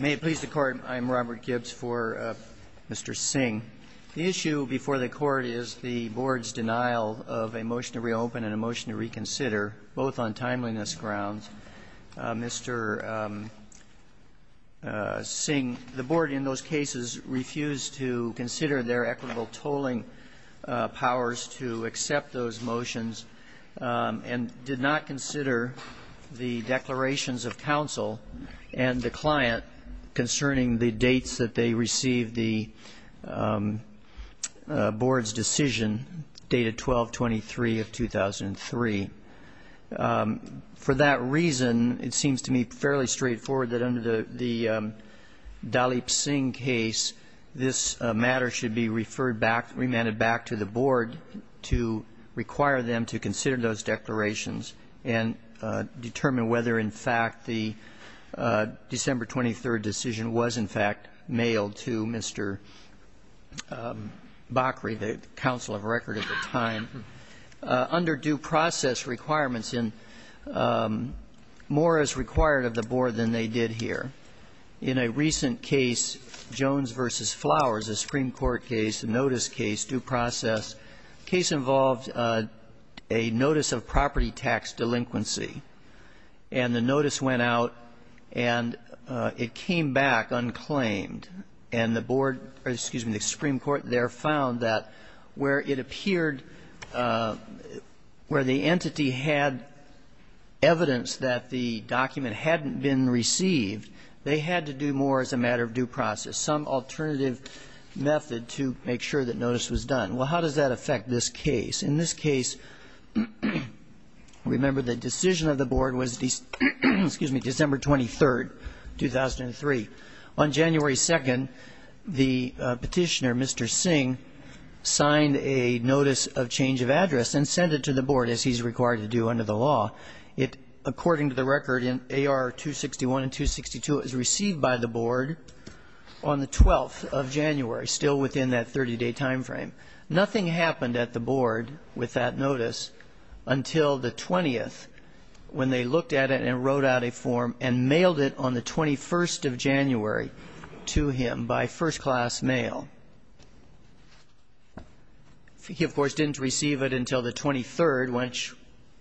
May it please the Court, I'm Robert Gibbs for Mr. Singh. The issue before the Court is the Board's denial of a motion to reopen and a motion to reconsider, both on timeliness grounds. Mr. Singh, the Board in those cases refused to consider their equitable tolling powers to accept those motions and did not consider the declarations of counsel and the client concerning the dates that they received the Board's decision dated 12-23 of 2003. For that reason, it seems to me fairly straightforward that under the Dalip Singh case, this matter should be referred back, remanded back to the Board to require them to consider those declarations and determine whether, in fact, the December 23 decision was, in fact, mailed to Mr. Bakri, the counsel of record at the time. Under due process requirements, more is required of the Board than they did here. In a recent case, Jones v. Flowers, a Supreme Court case, a notice case, due process, the case involved a notice of property tax delinquency. And the notice went out and it came back unclaimed. And the Board or, excuse me, the Supreme Court there found that where it appeared where the entity had evidence that the document hadn't been received, they had to do more as a matter of due process, some alternative method to make sure that notice was done. Well, how does that affect this case? In this case, remember the decision of the Board was December 23, 2003. On January 2nd, the petitioner, Mr. Singh, signed a notice of change of address and sent it to the Board, as he's required to do under the law. According to the record in AR 261 and 262, it was received by the Board on the 12th of January, still within that 30-day time frame. Nothing happened at the Board with that notice until the 20th, when they looked at it and wrote out a form and mailed it on the 21st of January to him by first-class mail. He, of course, didn't receive it until the 23rd, which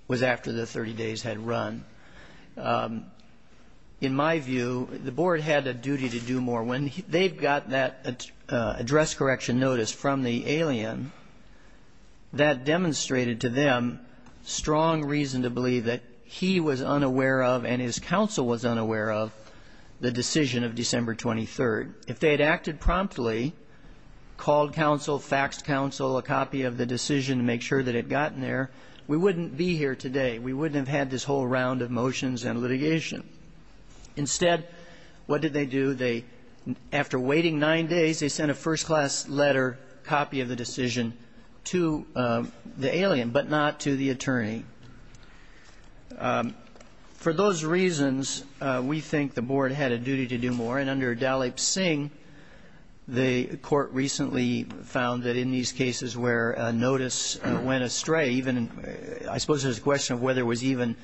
was after the 30 days had run. In my view, the Board had a duty to do more. When they got that address correction notice from the alien, that demonstrated to them strong reason to believe that he was unaware of and his counsel was unaware of the decision of December 23rd. If they had acted promptly, called counsel, faxed counsel a copy of the decision to make sure that it had gotten there, we wouldn't be here today. We wouldn't have had this whole round of motions and litigation. Instead, what did they do? After waiting nine days, they sent a first-class letter copy of the decision to the alien, but not to the attorney. For those reasons, we think the Board had a duty to do more. Under Dalip Singh, the court recently found that in these cases where a notice went astray, I suppose there's a question of whether it was even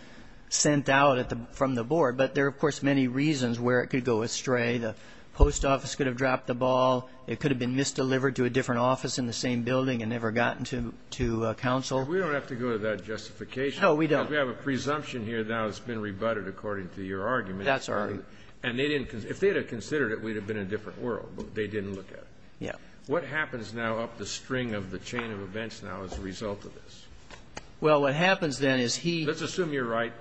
sent out from the Board, but there are, of course, many reasons where it could go astray. The post office could have dropped the ball. It could have been misdelivered to a different office in the same building and never gotten to counsel. We don't have to go to that justification. No, we don't. We have a presumption here now that's been rebutted according to your argument. That's our argument. And if they had considered it, we'd have been in a different world. They didn't look at it. Yeah. What happens now up the string of the chain of events now as a result of this? Well, what happens then is he Let's assume you're right.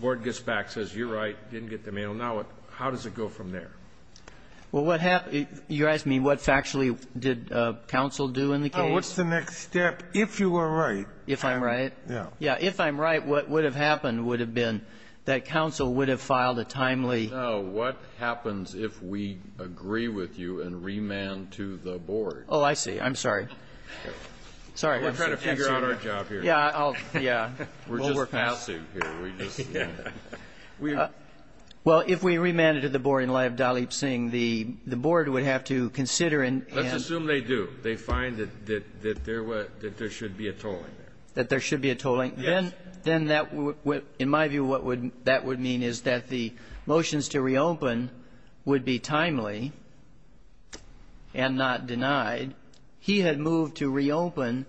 Board gets back, says you're right, didn't get the mail. Now, how does it go from there? Well, what happens You're asking me what factually did counsel do in the case? No. What's the next step if you were right? If I'm right? Yeah. Yeah. If I'm right, what would have happened would have been that counsel would have filed a timely No. What happens if we agree with you and remand to the Board? Oh, I see. I'm sorry. Sorry. We're trying to figure out our job here. Yeah. Yeah. We're just passing here. Yeah. Well, if we remanded to the Board in light of Dalip Singh, the Board would have to consider Let's assume they do. They find that there should be a tolling there. That there should be a tolling. Yes. Then, in my view, what that would mean is that the motions to reopen would be timely and not denied. He had moved to reopen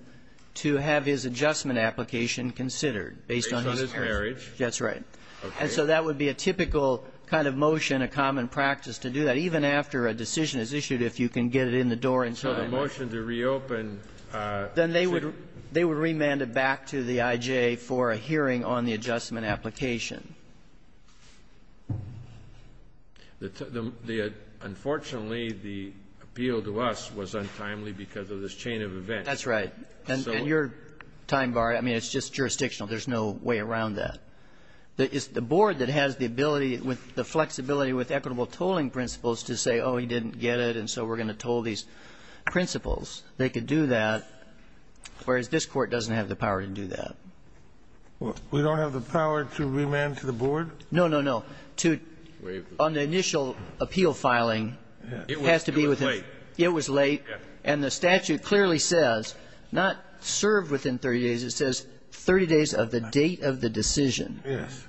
to have his adjustment application considered based on his based on his marriage. That's right. Okay. And so that would be a typical kind of motion, a common practice to do that, even after a decision is issued, if you can get it in the door in time. So the motion to reopen Then they would remand it back to the IJ for a hearing on the adjustment application. Unfortunately, the appeal to us was untimely because of this chain of events. That's right. And your time bar, I mean, it's just jurisdictional. There's no way around that. It's the Board that has the ability with the flexibility with equitable tolling principles to say, oh, he didn't get it, and so we're going to toll these principles. They could do that, whereas this Court doesn't have the power to do that. We don't have the power to remand to the Board? No, no, no. On the initial appeal filing, it has to be within It was late. It was late. And the statute clearly says, not served within 30 days, it says 30 days of the date of the decision. Yes.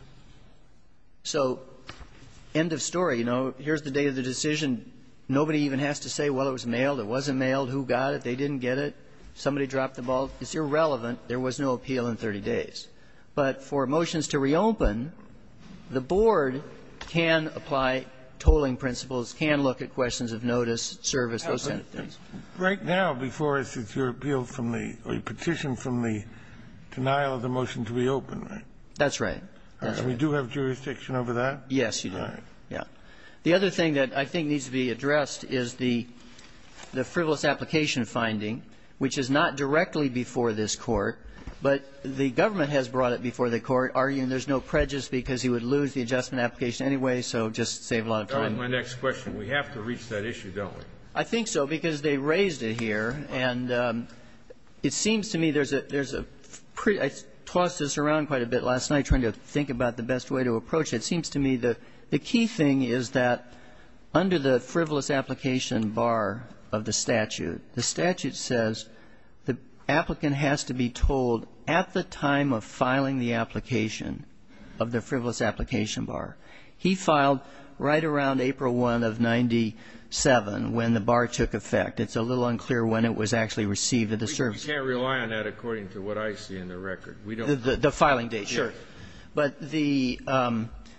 So end of story. You know, here's the date of the decision. Nobody even has to say, well, it was mailed, it wasn't mailed, who got it, they didn't get it, somebody dropped the ball. It's irrelevant. There was no appeal in 30 days. But for motions to reopen, the Board can apply tolling principles, can look at questions of notice, service, those kind of things. Right now, before us, it's your appeal from the petition from the denial of the motion to reopen, right? That's right. That's right. We do have jurisdiction over that? Yes, you do. Right. Yeah. The other thing that I think needs to be addressed is the frivolous application finding, which is not directly before this Court. But the government has brought it before the Court, arguing there's no prejudice because he would lose the adjustment application anyway, so just save a lot of time. My next question, we have to reach that issue, don't we? I think so, because they raised it here. And it seems to me there's a pre – I tossed this around quite a bit last night trying to think about the best way to approach it. It seems to me that the key thing is that under the frivolous application bar of the statute, the statute says the applicant has to be told at the time of filing the application of the frivolous application bar. He filed right around April 1 of 97 when the bar took effect. It's a little unclear when it was actually received at the service. We can't rely on that according to what I see in the record. The filing date. Sure. But the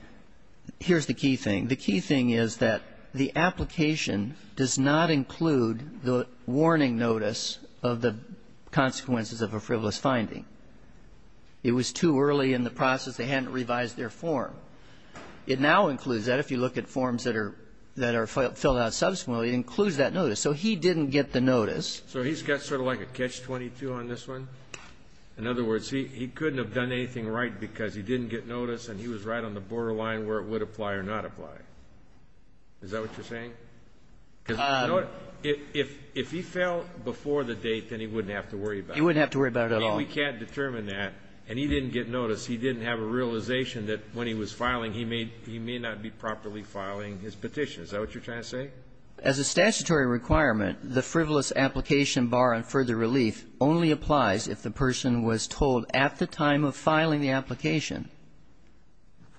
– here's the key thing. The key thing is that the application does not include the warning notice of the consequences of a frivolous finding. It was too early in the process. They hadn't revised their form. It now includes that. If you look at forms that are filled out subsequently, it includes that notice. So he didn't get the notice. So he's got sort of like a catch-22 on this one? In other words, he couldn't have done anything right because he didn't get notice and he was right on the borderline where it would apply or not apply. Is that what you're saying? Because if he fell before the date, then he wouldn't have to worry about it. He wouldn't have to worry about it at all. I mean, we can't determine that. And he didn't get notice. He didn't have a realization that when he was filing, he may not be properly filing his petition. Is that what you're trying to say? As a statutory requirement, the frivolous application bar on further relief only applies if the person was told at the time of filing the application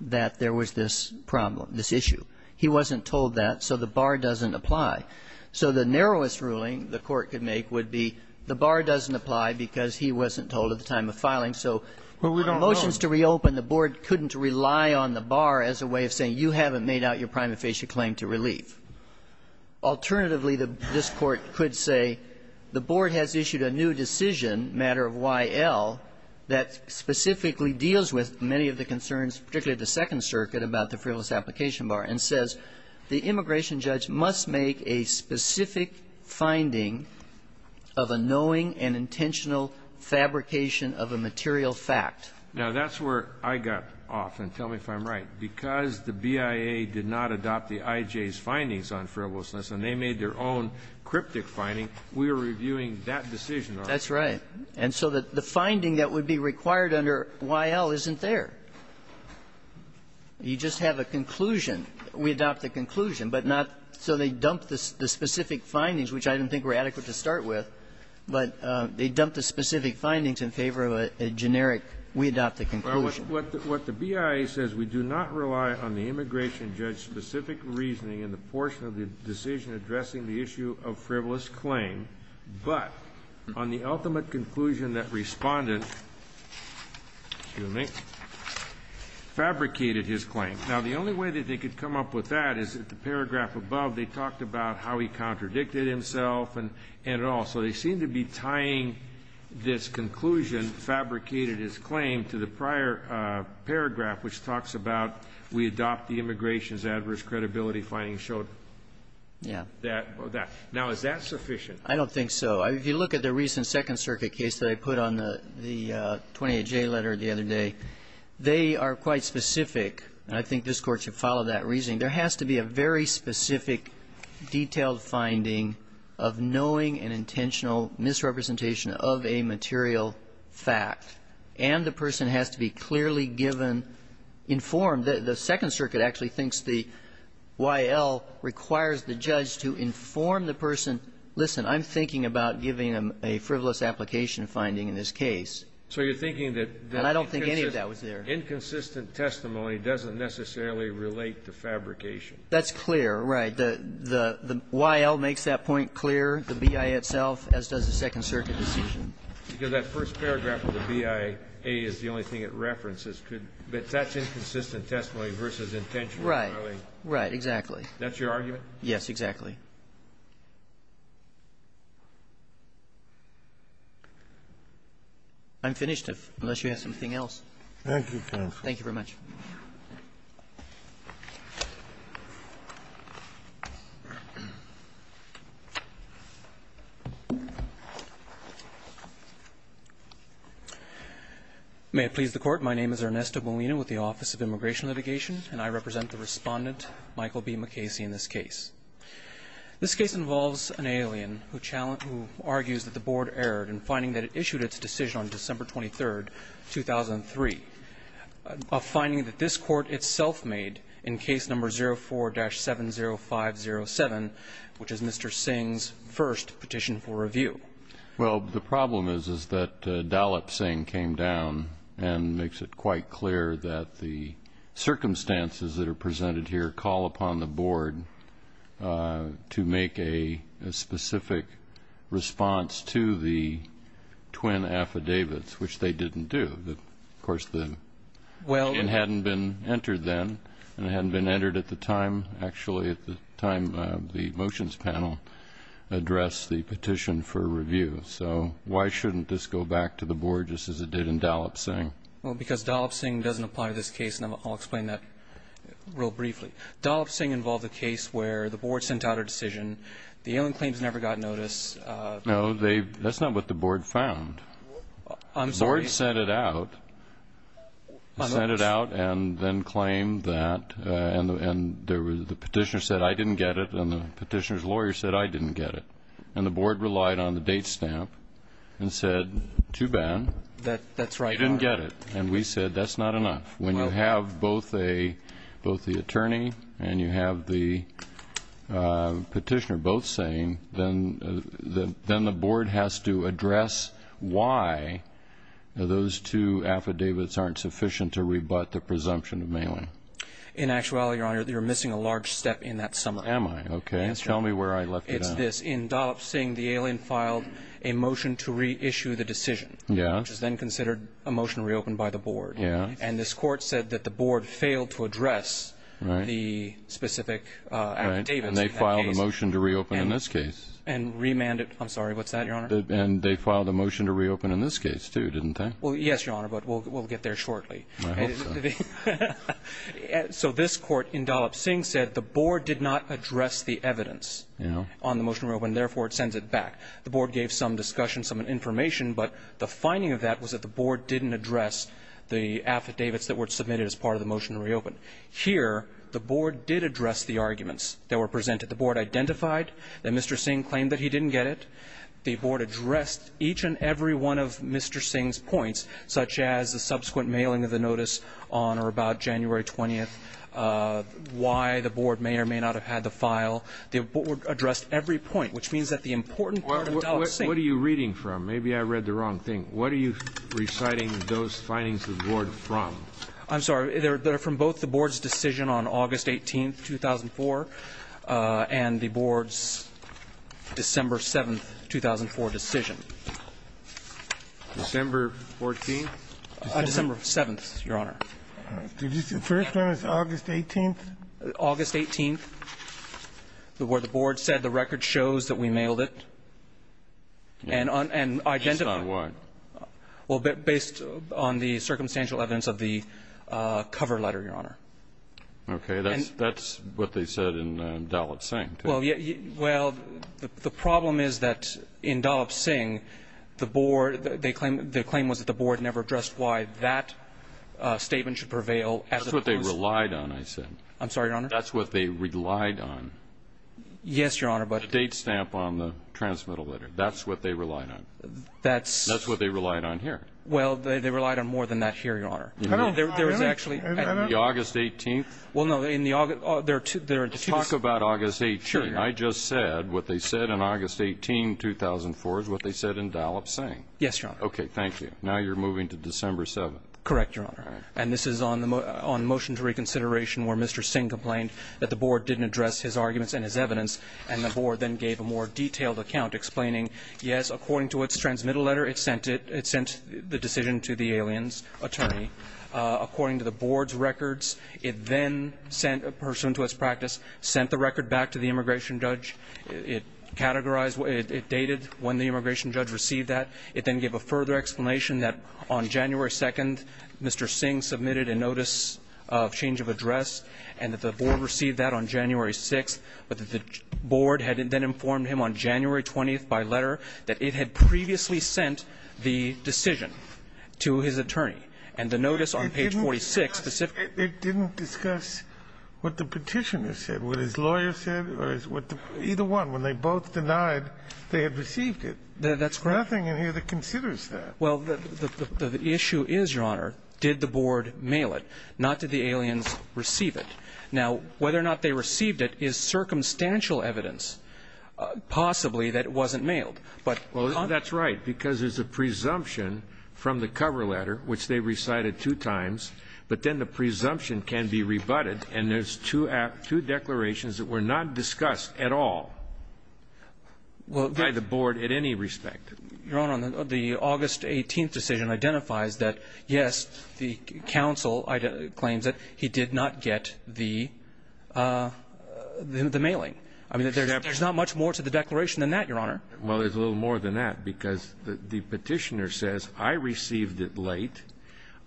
that there was this problem, this issue. He wasn't told that, so the bar doesn't apply. So the narrowest ruling the Court could make would be the bar doesn't apply because he wasn't told at the time of filing. So motions to reopen, the board couldn't rely on the bar as a way of saying you haven't made out your prima facie claim to relief. Alternatively, this Court could say the board has issued a new decision, matter of Y.L., that specifically deals with many of the concerns, particularly the Second Circuit, about the frivolous application bar and says the immigration judge must make a specific finding of a knowing and intentional fabrication of a material fact. Now, that's where I got off, and tell me if I'm right. Because the BIA did not adopt the I.J.'s findings on frivolousness and they made their own cryptic finding, we were reviewing that decision on it. That's right. And so the finding that would be required under Y.L. isn't there. You just have a conclusion. We adopt the conclusion, but not so they dump the specific findings, which I don't think were adequate to start with, but they dump the specific findings in favor of a generic, we adopt the conclusion. What the BIA says, we do not rely on the immigration judge's specific reasoning in the portion of the decision addressing the issue of frivolous claim, but on the ultimate conclusion that Respondent fabricated his claim. Now, the only way that they could come up with that is that the paragraph above, they talked about how he contradicted himself and it all. So they seem to be tying this conclusion, fabricated his claim, to the prior paragraph which talks about we adopt the immigration's adverse credibility findings. Yeah. Now, is that sufficient? I don't think so. If you look at the recent Second Circuit case that I put on the 28J letter the other day, they are quite specific. And I think this Court should follow that reasoning. There has to be a very specific detailed finding of knowing and intentional misrepresentation of a material fact. And the person has to be clearly given, informed. The Second Circuit actually thinks the Y.L. requires the judge to inform the person, listen, I'm thinking about giving them a frivolous application finding in this case. So you're thinking that the inconsistent testimony doesn't necessarily relate to fabrication. That's clear, right. The Y.L. makes that point clear, the B.I. itself, as does the Second Circuit decision. Because that first paragraph of the B.I.A. is the only thing it references. But that's inconsistent testimony versus intention. Right. Right, exactly. That's your argument? Yes, exactly. I'm finished, unless you have something else. Thank you, counsel. Thank you very much. May it please the Court. My name is Ernesto Molina with the Office of Immigration Litigation, and I represent the Respondent, Michael B. McCasey, in this case. This case involves an alien who argues that the Board erred in finding that it issued its decision on December 23, 2003, a finding that this Court itself made in Case No. 04-70507, which is Mr. Singh's first petition for review. Well, the problem is, is that Dalip Singh came down and makes it quite clear that the circumstances that are presented here call upon the Board to make a specific response to the twin affidavits, which they didn't do. Of course, it hadn't been entered then, and it hadn't been entered at the time, actually, at the time the motions panel addressed the petition for review. So why shouldn't this go back to the Board just as it did in Dalip Singh? Well, because Dalip Singh doesn't apply to this case, and I'll explain that real briefly. Dalip Singh involved a case where the Board sent out a decision, the alien claims never got notice. No, that's not what the Board found. I'm sorry? The Board sent it out, sent it out and then claimed that, and the petitioner said, I didn't get it, and the petitioner's lawyer said, I didn't get it. And the Board relied on the date stamp and said, too bad. That's right. They didn't get it. And we said, that's not enough. When you have both the attorney and you have the petitioner both saying, then the Board has to address why those two affidavits aren't sufficient to rebut the presumption of mailing. In actuality, Your Honor, you're missing a large step in that summary. Am I? Okay. Tell me where I left it off. It's this. In Dalip Singh, the alien filed a motion to reissue the decision, which is then considered a motion reopened by the Board. Yes. And this Court said that the Board failed to address the specific affidavits. Right. And they filed a motion to reopen in this case. And remanded, I'm sorry, what's that, Your Honor? And they filed a motion to reopen in this case, too, didn't they? Well, yes, Your Honor, but we'll get there shortly. I hope so. So this Court in Dalip Singh said the Board did not address the evidence on the motion to reopen, therefore it sends it back. The Board gave some discussion, some information, but the finding of that was that the Board didn't address the affidavits that were submitted as part of the motion to reopen. Here, the Board did address the arguments that were presented. The Board identified that Mr. Singh claimed that he didn't get it. The Board addressed each and every one of Mr. Singh's points, such as the subsequent mailing of the notice on or about January 20th, why the Board may or may not have had the file. The Board addressed every point, which means that the important part of Dalip Singh What are you reading from? Maybe I read the wrong thing. What are you reciting those findings to the Board from? I'm sorry. They're from both the Board's decision on August 18th, 2004, and the Board's December 7th, 2004 decision. December 14th? December 7th, Your Honor. Did you say the first one was August 18th? August 18th, where the Board said the record shows that we mailed it and identified Well, based on the circumstantial evidence of the cover letter, Your Honor. Okay. That's what they said in Dalip Singh. Well, the problem is that in Dalip Singh, the claim was that the Board never addressed why that statement should prevail as opposed to That's what they relied on, I said. I'm sorry, Your Honor. That's what they relied on. Yes, Your Honor, but The date stamp on the transmittal letter. That's what they relied on. That's That's what they relied on here. Well, they relied on more than that here, Your Honor. There was actually The August 18th? Well, no, in the August Let's talk about August 18th. Sure, Your Honor. I just said what they said in August 18, 2004 is what they said in Dalip Singh. Yes, Your Honor. Okay, thank you. Now you're moving to December 7th. Correct, Your Honor. And this is on motion to reconsideration where Mr. Singh complained that the Board didn't address his arguments and his evidence, and the Board then gave a more detailed account explaining, yes, according to its transmittal letter, it sent it, it sent the decision to the alien's attorney. According to the Board's records, it then sent a person to its practice, sent the record back to the immigration judge. It categorized, it dated when the immigration judge received that. It then gave a further explanation that on January 2nd, Mr. Singh submitted a notice of change of address, and that the Board received that on January 6th, but that the Board received by letter that it had previously sent the decision to his attorney. And the notice on page 46 specifically ---- It didn't discuss what the petitioner said, what his lawyer said, or what the ---- either one. When they both denied, they had received it. That's correct. Nothing in here that considers that. Well, the issue is, Your Honor, did the Board mail it, not did the aliens receive it. Now, whether or not they received it is circumstantial evidence, possibly, that it wasn't mailed. But ---- Well, that's right, because there's a presumption from the cover letter, which they recited two times, but then the presumption can be rebutted, and there's two declarations that were not discussed at all by the Board at any respect. Your Honor, the August 18th decision identifies that, yes, the counsel claims that he did not get the mailing. I mean, there's not much more to the declaration than that, Your Honor. Well, there's a little more than that, because the petitioner says, I received it late,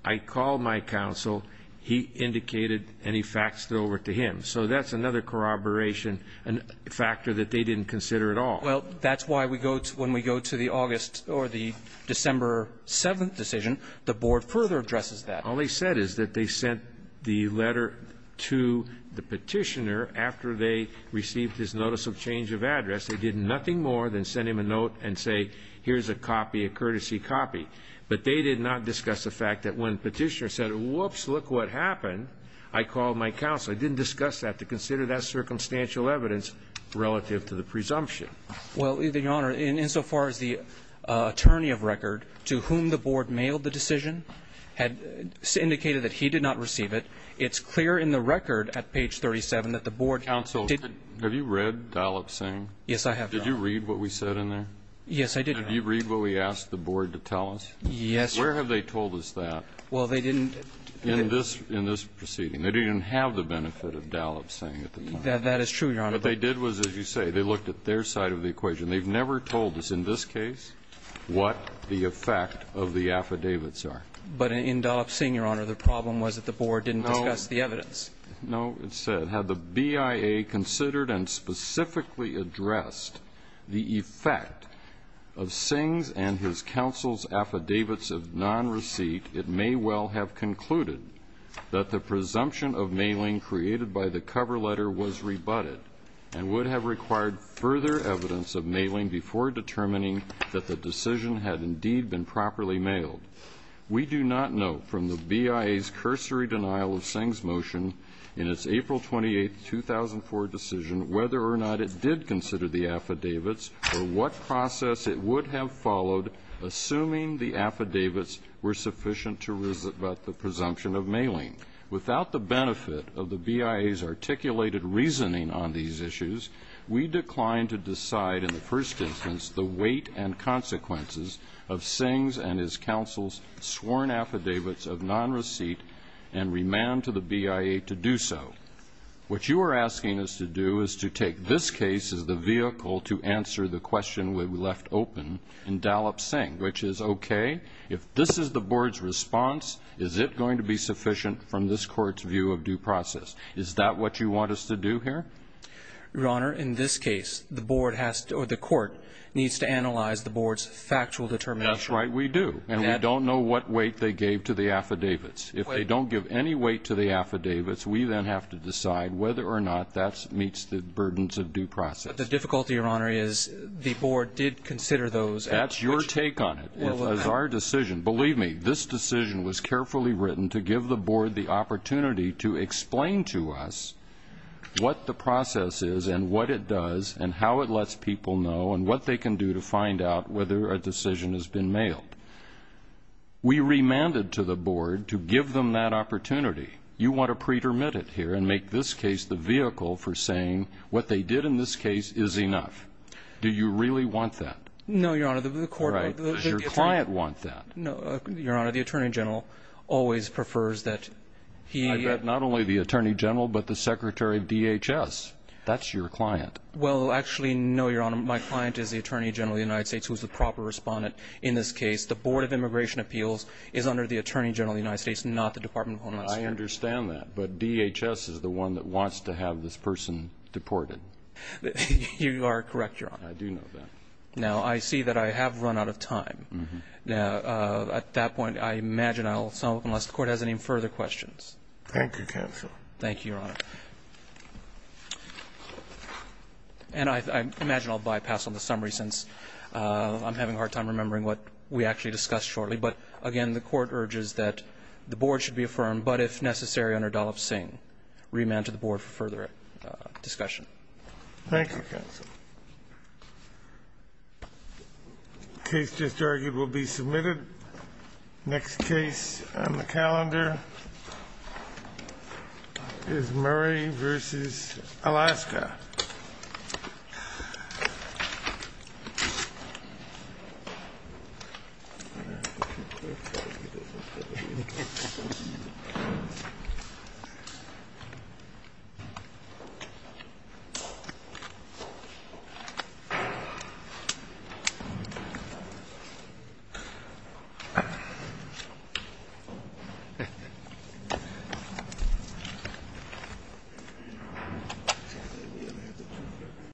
I called my counsel, he indicated, and he faxed it over to him. So that's another corroboration, a factor that they didn't consider at all. Well, that's why we go to the August or the December 7th decision, the Board further addresses that. All they said is that they sent the letter to the petitioner after they received his notice of change of address. They did nothing more than send him a note and say, here's a copy, a courtesy copy. But they did not discuss the fact that when petitioner said, whoops, look what happened, I called my counsel. They didn't discuss that to consider that circumstantial evidence relative to the presumption. Well, Your Honor, insofar as the attorney of record to whom the Board mailed the decision had indicated that he did not receive it, it's clear in the record at page 37 that the Board did. Counsel, have you read Dalip Singh? Yes, I have, Your Honor. Did you read what we said in there? Yes, I did, Your Honor. Did you read what we asked the Board to tell us? Yes, Your Honor. Where have they told us that? Well, they didn't. In this proceeding. They didn't have the benefit of Dalip Singh at the time. That is true, Your Honor. What they did was, as you say, they looked at their side of the equation. They've never told us in this case what the effect of the affidavits are. But in Dalip Singh, Your Honor, the problem was that the Board didn't discuss the evidence. No, it said, Had the BIA considered and specifically addressed the effect of Singh's and his counsel's affidavits of nonreceipt, it may well have concluded that the presumption of mailing created by the cover letter was rebutted and would have required further evidence of mailing before determining that the decision had indeed been properly mailed. We do not know from the BIA's cursory denial of Singh's motion in its April 28, 2004 decision whether or not it did consider the affidavits or what process it would have followed, assuming the affidavits were sufficient to rebut the presumption of mailing. Without the benefit of the BIA's articulated reasoning on these issues, we declined to decide in the first instance the weight and consequences of Singh's and his counsel's sworn affidavits of nonreceipt and remand to the BIA to do so. What you are asking us to do is to take this case as the vehicle to answer the question we left open in Dalip Singh, which is, okay, if this is the Board's response, is it going to be sufficient from this Court's view of due process? Is that what you want us to do here? Your Honor, in this case, the Court needs to analyze the Board's factual determination. That's right, we do. And we don't know what weight they gave to the affidavits. If they don't give any weight to the affidavits, we then have to decide whether or not that meets the burdens of due process. But the difficulty, Your Honor, is the Board did consider those. That's your take on it. Believe me, this decision was carefully written to give the Board the opportunity to explain to us what the process is and what it does and how it lets people know and what they can do to find out whether a decision has been mailed. We remanded to the Board to give them that opportunity. You want to pretermit it here and make this case the vehicle for saying what they did in this case is enough. Do you really want that? No, Your Honor. Your client wants that. No, Your Honor. The Attorney General always prefers that he... I bet not only the Attorney General but the Secretary of DHS. That's your client. Well, actually, no, Your Honor. My client is the Attorney General of the United States, who is the proper respondent in this case. The Board of Immigration Appeals is under the Attorney General of the United States, not the Department of Homeland Security. I understand that. But DHS is the one that wants to have this person deported. You are correct, Your Honor. I do know that. Now, I see that I have run out of time. Now, at that point, I imagine I'll stop unless the Court has any further questions. Thank you, counsel. Thank you, Your Honor. And I imagine I'll bypass on the summary since I'm having a hard time remembering what we actually discussed shortly. But, again, the Court urges that the Board should be affirmed, but, if necessary, under Dollop-Singh, remand to the Board for further discussion. Thank you, counsel. The case just argued will be submitted. Next case on the calendar is Murray v. Alaska. Thank you.